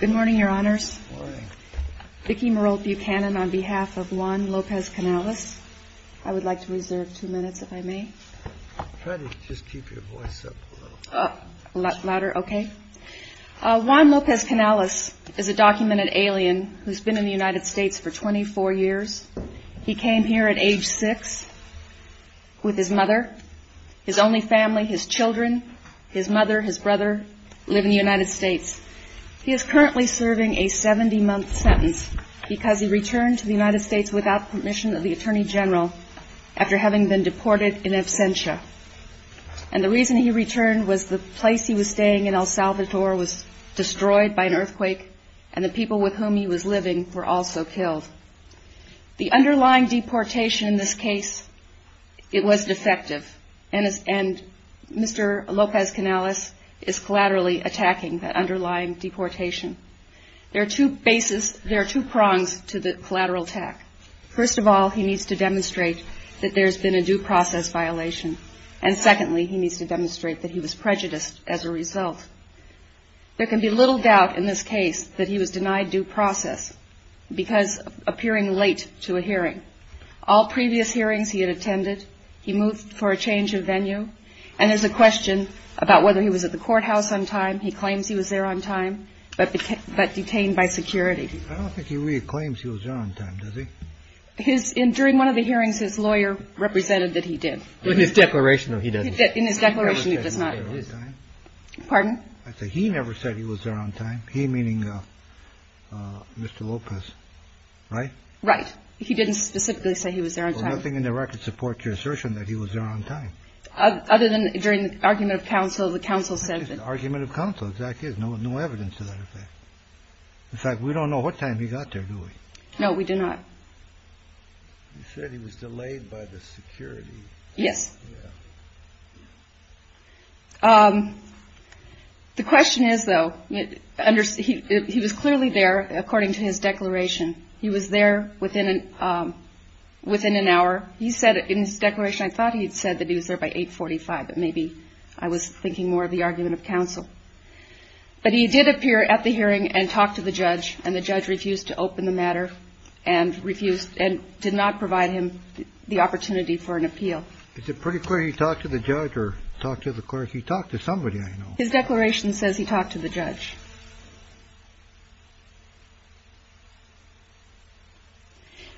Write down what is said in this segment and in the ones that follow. Good morning, your honors. Vicki Merolt Buchanan on behalf of Juan Lopez-Canales. I would like to reserve two minutes, if I may. Try to just keep your voice up a little. Louder? Okay. Juan Lopez-Canales is a documented alien who's been in the United States for 24 years. He came here at age six with his mother, his only family, his children, his mother, his brother, live in the United States. He is currently serving a 70-month sentence because he returned to the United States without permission of the Attorney General after having been deported in absentia. And the reason he returned was the place he was staying in El Salvador was destroyed by an earthquake and the people with whom he was living were also killed. The underlying deportation in this case, it was defective. And Mr. Lopez-Canales is collaterally attacking the underlying deportation. There are two bases, there are two prongs to the collateral attack. First of all, he needs to demonstrate that there's been a due process violation. And secondly, he needs to demonstrate that he was prejudiced as a result. There can be little doubt in this case that he was denied due process because of appearing late to a hearing. All previous hearings he had attended, he moved for a change of venue. And there's a question about whether he was at the courthouse on time. He claims he was there on time, but detained by security. I don't think he really claims he was there on time, does he? During one of the hearings, his lawyer represented that he did. In his declaration, though, he doesn't. In his declaration, he does not. Pardon? He never said he was there on time. He meaning Mr. Lopez, right? Right. He didn't specifically say he was there on time. Well, nothing in the record supports your assertion that he was there on time. Other than during the argument of counsel, the counsel said that. Argument of counsel. Exactly. There's no evidence to that effect. In fact, we don't know what time he got there, do we? No, we do not. You said he was delayed by the security. Yes. The question is, though, he was clearly there according to his declaration. He was there within an hour. He said in his declaration, I thought he had said that he was there by 845, but maybe I was thinking more of the argument of counsel. But he did appear at the hearing and talk to the judge, and the judge refused to open the matter and refused and did not provide him the opportunity for an appeal. Is it pretty clear he talked to the judge or talked to the court? He talked to somebody. His declaration says he talked to the judge.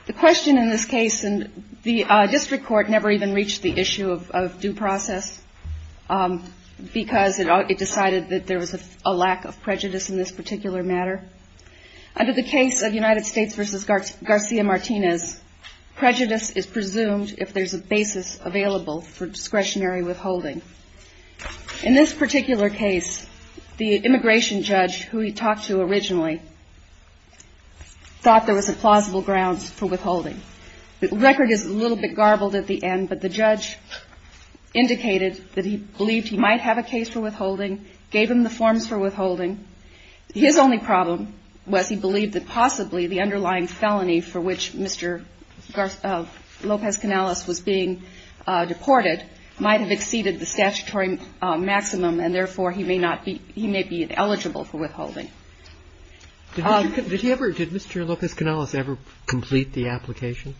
The question in this case and the district court never even reached the issue of due process because it decided that there was a lack of prejudice in this particular matter. Under the case of United States versus Garcia Martinez, prejudice is presumed if there's a basis available for discretionary withholding. In this particular case, the immigration judge who he talked to originally thought there was a plausible grounds for withholding. The record is a little bit garbled at the end, but the judge indicated that he believed he might have a case for withholding, gave him the forms for withholding. His only problem was he believed that possibly the underlying felony for which Mr. Lopez-Canales was being deported might have exceeded the statutory maximum, and therefore he may not be – he may be eligible for withholding. Did he ever – did Mr. Lopez-Canales ever complete the application?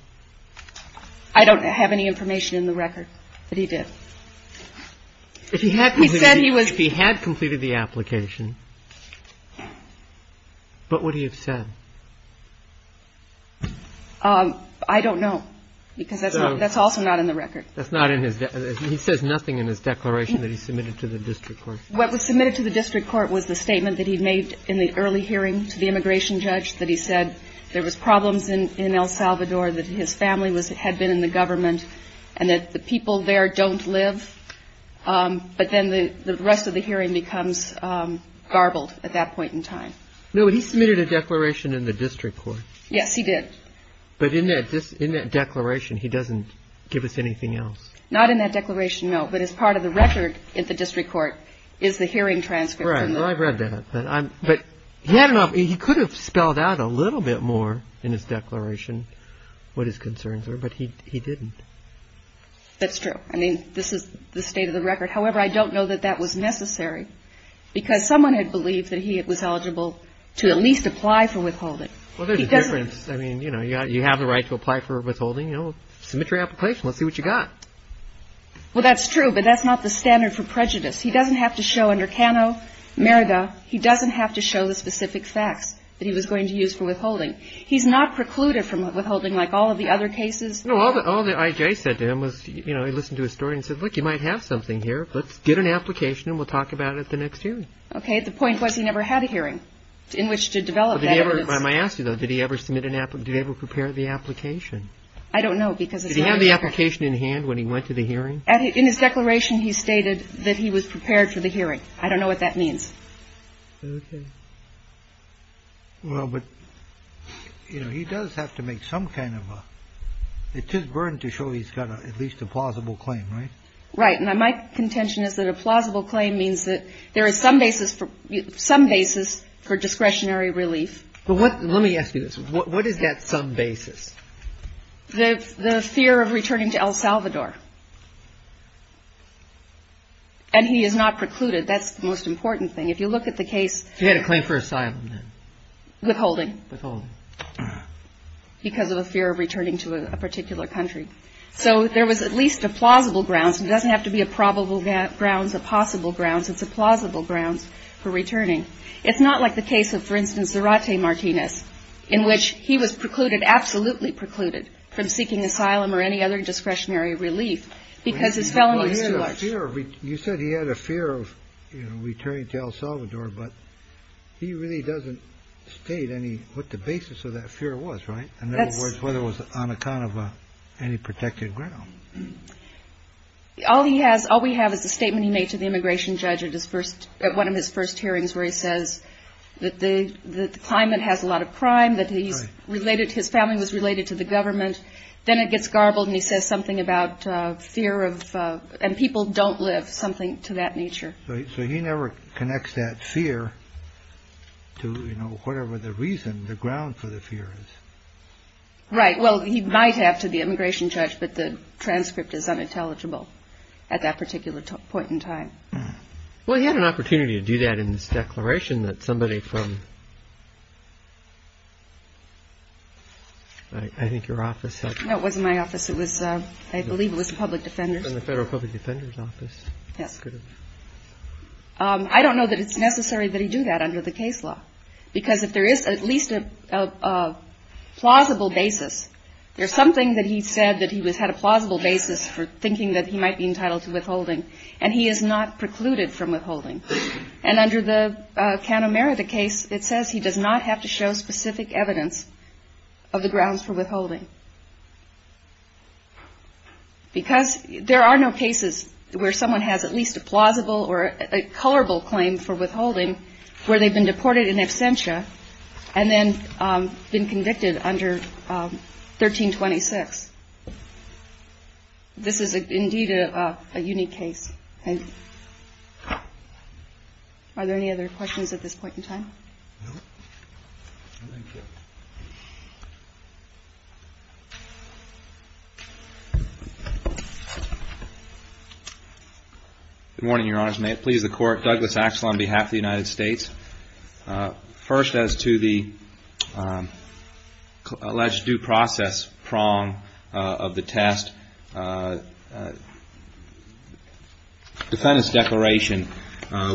I don't have any information in the record that he did. If he had completed the application, what would he have said? I don't know because that's also not in the record. That's not in his – he says nothing in his declaration that he submitted to the district court. What was submitted to the district court was the statement that he made in the early hearing to the immigration judge that he said there was problems in El Salvador, that his family was – had been in the government, and that the people there don't live. But then the rest of the hearing becomes garbled at that point in time. No, but he submitted a declaration in the district court. Yes, he did. But in that declaration, he doesn't give us anything else. Not in that declaration, no. But as part of the record in the district court is the hearing transcript. Right. Well, I've read that. But he could have spelled out a little bit more in his declaration what his concerns were, but he didn't. That's true. I mean, this is the state of the record. However, I don't know that that was necessary because someone had believed that he was eligible to at least apply for withholding. Well, there's a difference. I mean, you know, you have the right to apply for withholding, you know, submit your application, let's see what you got. Well, that's true, but that's not the standard for prejudice. He doesn't have to show under Cano, Merida, he doesn't have to show the specific facts that he was going to use for withholding. He's not precluded from withholding like all of the other cases. No, all the all the IJ said to him was, you know, I listened to a story and said, look, you might have something here. Let's get an application and we'll talk about it the next year. OK. The point was he never had a hearing in which to develop. Did he ever. I asked you, though, did he ever submit an app? Did he ever prepare the application? I don't know because he had the application in hand when he went to the hearing. In his declaration, he stated that he was prepared for the hearing. I don't know what that means. OK. Well, but, you know, he does have to make some kind of a it's his burden to show he's got at least a plausible claim. Right. Right. And my contention is that a plausible claim means that there is some basis for some basis for discretionary relief. But let me ask you this. What is that some basis? The fear of returning to El Salvador. And he is not precluded. That's the most important thing. If you look at the case. He had a claim for asylum. Withholding because of a fear of returning to a particular country. So there was at least a plausible grounds. It doesn't have to be a probable grounds, a possible grounds. It's a plausible grounds for returning. It's not like the case of, for instance, Zarate Martinez, in which he was precluded, absolutely precluded from seeking asylum or any other discretionary relief because his felonies. You said he had a fear of returning to El Salvador, but he really doesn't state any. What the basis of that fear was right. And that's whether it was on account of any protected ground. All he has. All we have is a statement he made to the immigration judge at his first at one of his first hearings, where he says that the climate has a lot of crime that he's related. His family was related to the government. Then it gets garbled and he says something about fear of and people don't live something to that nature. So he never connects that fear to, you know, whatever the reason the ground for the fear is. Right. Well, he might have to the immigration judge. But the transcript is unintelligible at that particular point in time. Well, he had an opportunity to do that in this declaration that somebody from. I think your office was in my office. It was I believe it was a public defender from the Federal Public Defender's Office. Yes. I don't know that it's necessary that he do that under the case law, because if there is at least a plausible basis, there's something that he said that he was had a plausible basis for thinking that he might be entitled to withholding. And he is not precluded from withholding. And under the count America case, it says he does not have to show specific evidence of the grounds for withholding. Because there are no cases where someone has at least a plausible or a culpable claim for withholding, where they've been deported in absentia and then been convicted under 1326. This is indeed a unique case. Are there any other questions at this point in time? Good morning, Your Honors. May it please the Court. Douglas Axel on behalf of the United States. First, as to the alleged due process prong of the test, defendant's declaration,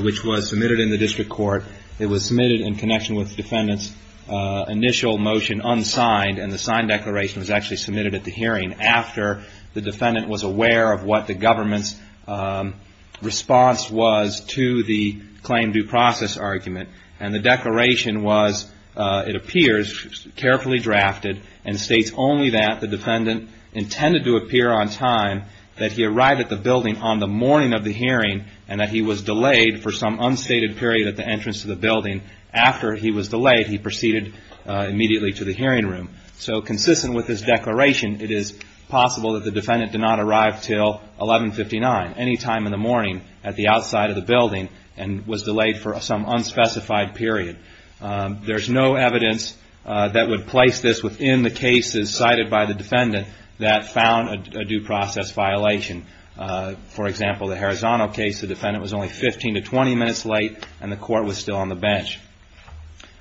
which was submitted in the district court, it was submitted in connection with defendant's initial motion unsigned, and the signed declaration was actually submitted at the hearing after the defendant was aware of what the government's response was to the claim due process argument. And the declaration was, it appears, carefully drafted, and states only that the defendant intended to appear on time, that he arrived at the building on the morning of the hearing, and that he was delayed for some unstated period at the entrance to the building. After he was delayed, he proceeded immediately to the hearing room. So, consistent with his declaration, it is possible that the defendant did not arrive until 1159, any time in the morning, at the outside of the building, and was delayed for some unspecified period. There's no evidence that would place this within the cases cited by the defendant that found a due process violation. For example, the Harazano case, the defendant was only 15 to 20 minutes late, and the court was still on the bench.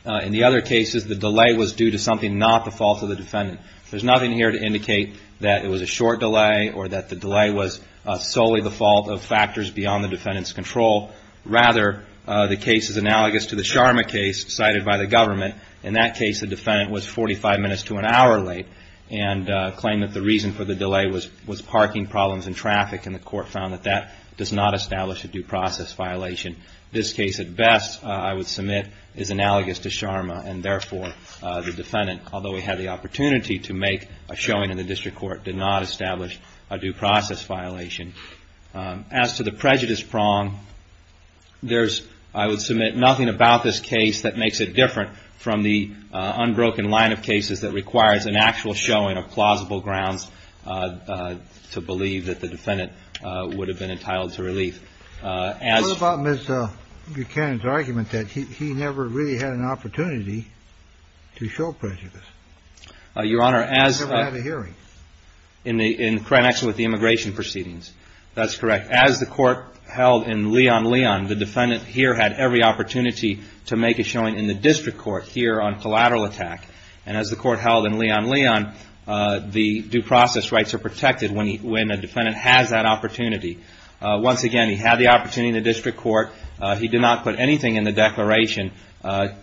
In the other cases, the delay was due to something not the fault of the defendant. There's nothing here to indicate that it was a short delay, or that the delay was solely the fault of factors beyond the defendant's control. Rather, the case is analogous to the Sharma case cited by the government. In that case, the defendant was 45 minutes to an hour late, and claimed that the reason for the delay was parking problems and traffic, and the court found that that does not establish a due process violation. This case, at best, I would submit, is analogous to Sharma, and therefore, the defendant, although he had the opportunity to make a showing in the district court, did not establish a due process violation. As to the prejudice prong, there's, I would submit, nothing about this case that makes it different from the unbroken line of cases that requires an actual showing of plausible grounds to believe that the defendant would have been entitled to relief. What about Ms. Buchanan's argument that he never really had an opportunity to show prejudice? He never had a hearing. In connection with the immigration proceedings, that's correct. As the court held in Leon, Leon, the defendant here had every opportunity to make a showing in the district court here on collateral attack. And as the court held in Leon, Leon, the due process rights are protected when a defendant has that opportunity. Once again, he had the opportunity in the district court. He did not put anything in the declaration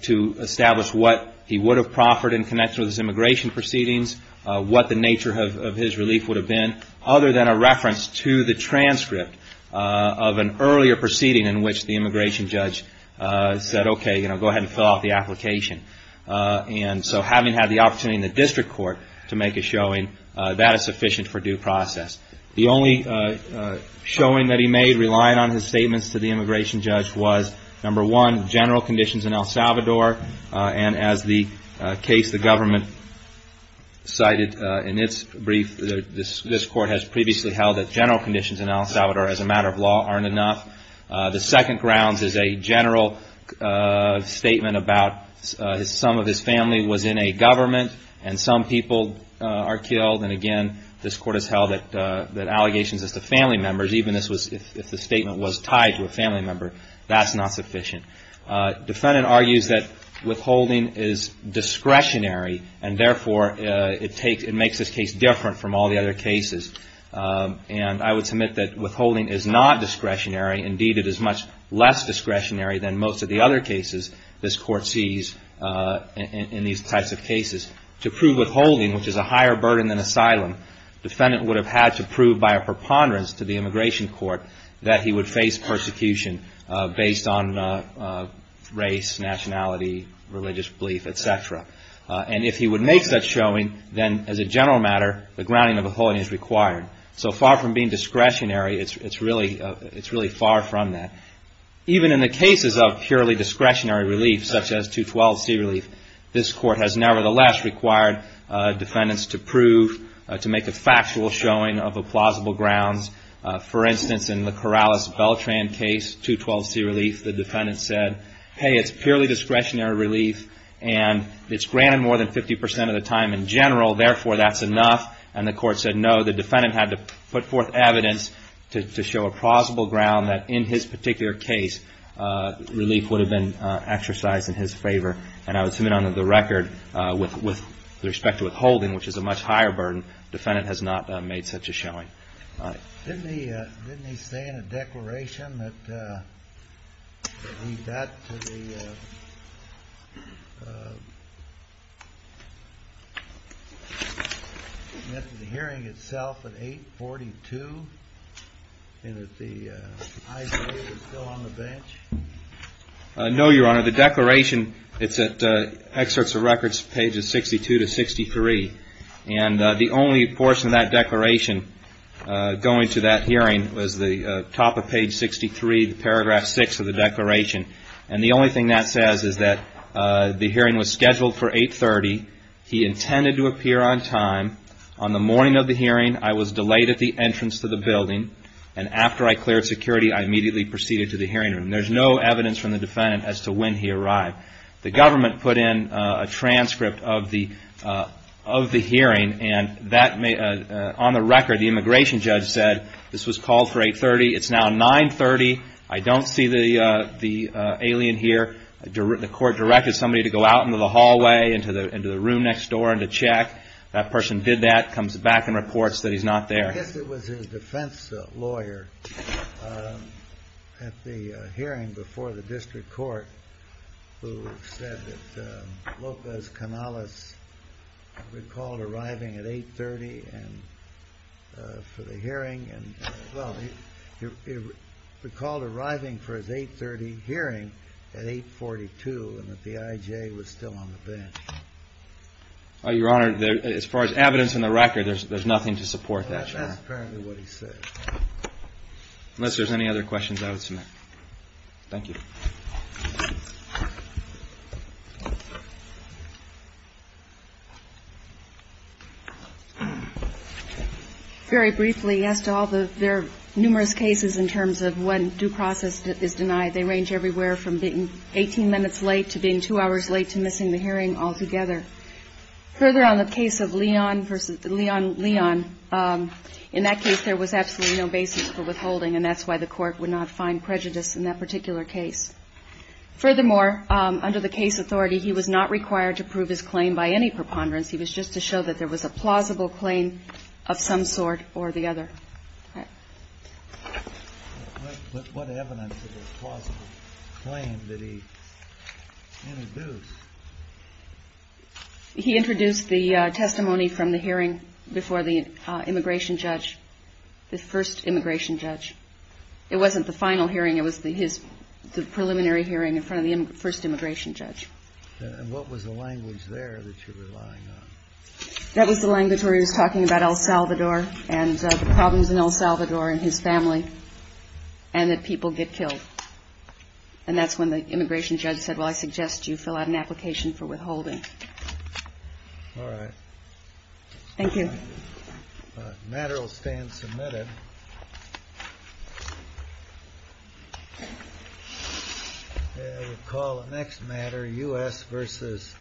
to establish what he would have proffered in connection with his immigration proceedings, what the nature of his relief would have been, other than a reference to the transcript of an earlier proceeding in which the immigration judge said, okay, go ahead and fill out the application. And so having had the opportunity in the district court to make a showing, that is sufficient for due process. The only showing that he made, relying on his statements to the immigration judge, was number one, general conditions in El Salvador. And as the case the government cited in its brief, this court has previously held that general conditions in El Salvador as a matter of law aren't enough. The second grounds is a general statement about some of his family was in a government and some people are killed. And again, this court has held that allegations as to family members, even if the statement was tied to a family member, that's not sufficient. The defendant argues that withholding is discretionary and therefore it makes this case different from all the other cases. And I would submit that withholding is not discretionary. Indeed, it is much less discretionary than most of the other cases this court sees in these types of cases. To prove withholding, which is a higher burden than asylum, the defendant would have had to prove by a preponderance to the immigration court that he would face persecution based on race, nationality, religious belief, etc. And if he would make such showing, then as a general matter, the grounding of withholding is required. So far from being discretionary, it's really far from that. Even in the cases of purely discretionary relief, such as 212C relief, this court has nevertheless required defendants to prove, to make a factual showing of plausible grounds. For instance, in the Corrales-Beltran case, 212C relief, the defendant said, hey, it's purely discretionary relief and it's granted more than 50% of the time in general, therefore that's enough. And the court said no, the defendant had to put forth evidence to show a plausible ground that in his particular case, relief would have been exercised in his favor. And I would submit under the record, with respect to withholding, which is a much higher burden, the defendant has not made such a showing. Didn't he say in a declaration that he got to the hearing itself at 842? And that the ICE is still on the bench? No, Your Honor. The declaration, it's at Excerpts of Records, pages 62 to 63. And the only portion of that declaration going to that hearing was the top of page 63, paragraph 6 of the declaration. And the only thing that says is that the hearing was scheduled for 830. He intended to appear on time. On the morning of the hearing, I was delayed at the entrance to the building. And after I cleared security, I immediately proceeded to the hearing room. There's no evidence from the defendant as to when he arrived. The government put in a transcript of the hearing, and on the record, the immigration judge said this was called for 830. It's now 930. I don't see the alien here. The court directed somebody to go out into the hallway, into the room next door and to check. That person did that, comes back and reports that he's not there. I guess it was his defense lawyer at the hearing before the district court who said that Lopez Canales recalled arriving at 830 for the hearing. Well, he recalled arriving for his 830 hearing at 842 and that the IJ was still on the bench. Your Honor, as far as evidence in the record, there's nothing to support that. That's apparently what he said. Unless there's any other questions I would submit. Thank you. Very briefly, as to all the numerous cases in terms of when due process is denied, they range everywhere from being 18 minutes late to being two hours late to missing the hearing altogether. Further, on the case of Leon versus Leon, Leon, in that case, there was absolutely no basis for withholding, and that's why the court would not find prejudice in that particular case. Furthermore, under the case authority, he was not required to prove his claim by any preponderance. He was just to show that there was a plausible claim of some sort or the other. What evidence of a plausible claim did he introduce? He introduced the testimony from the hearing before the immigration judge, the first immigration judge. It wasn't the final hearing. It was his preliminary hearing in front of the first immigration judge. And what was the language there that you're relying on? That was the language where he was talking about El Salvador and the problems in El Salvador and his family and that people get killed. And that's when the immigration judge said, well, I suggest you fill out an application for withholding. All right. Thank you. The matter will stand submitted. We'll call the next matter U.S. v.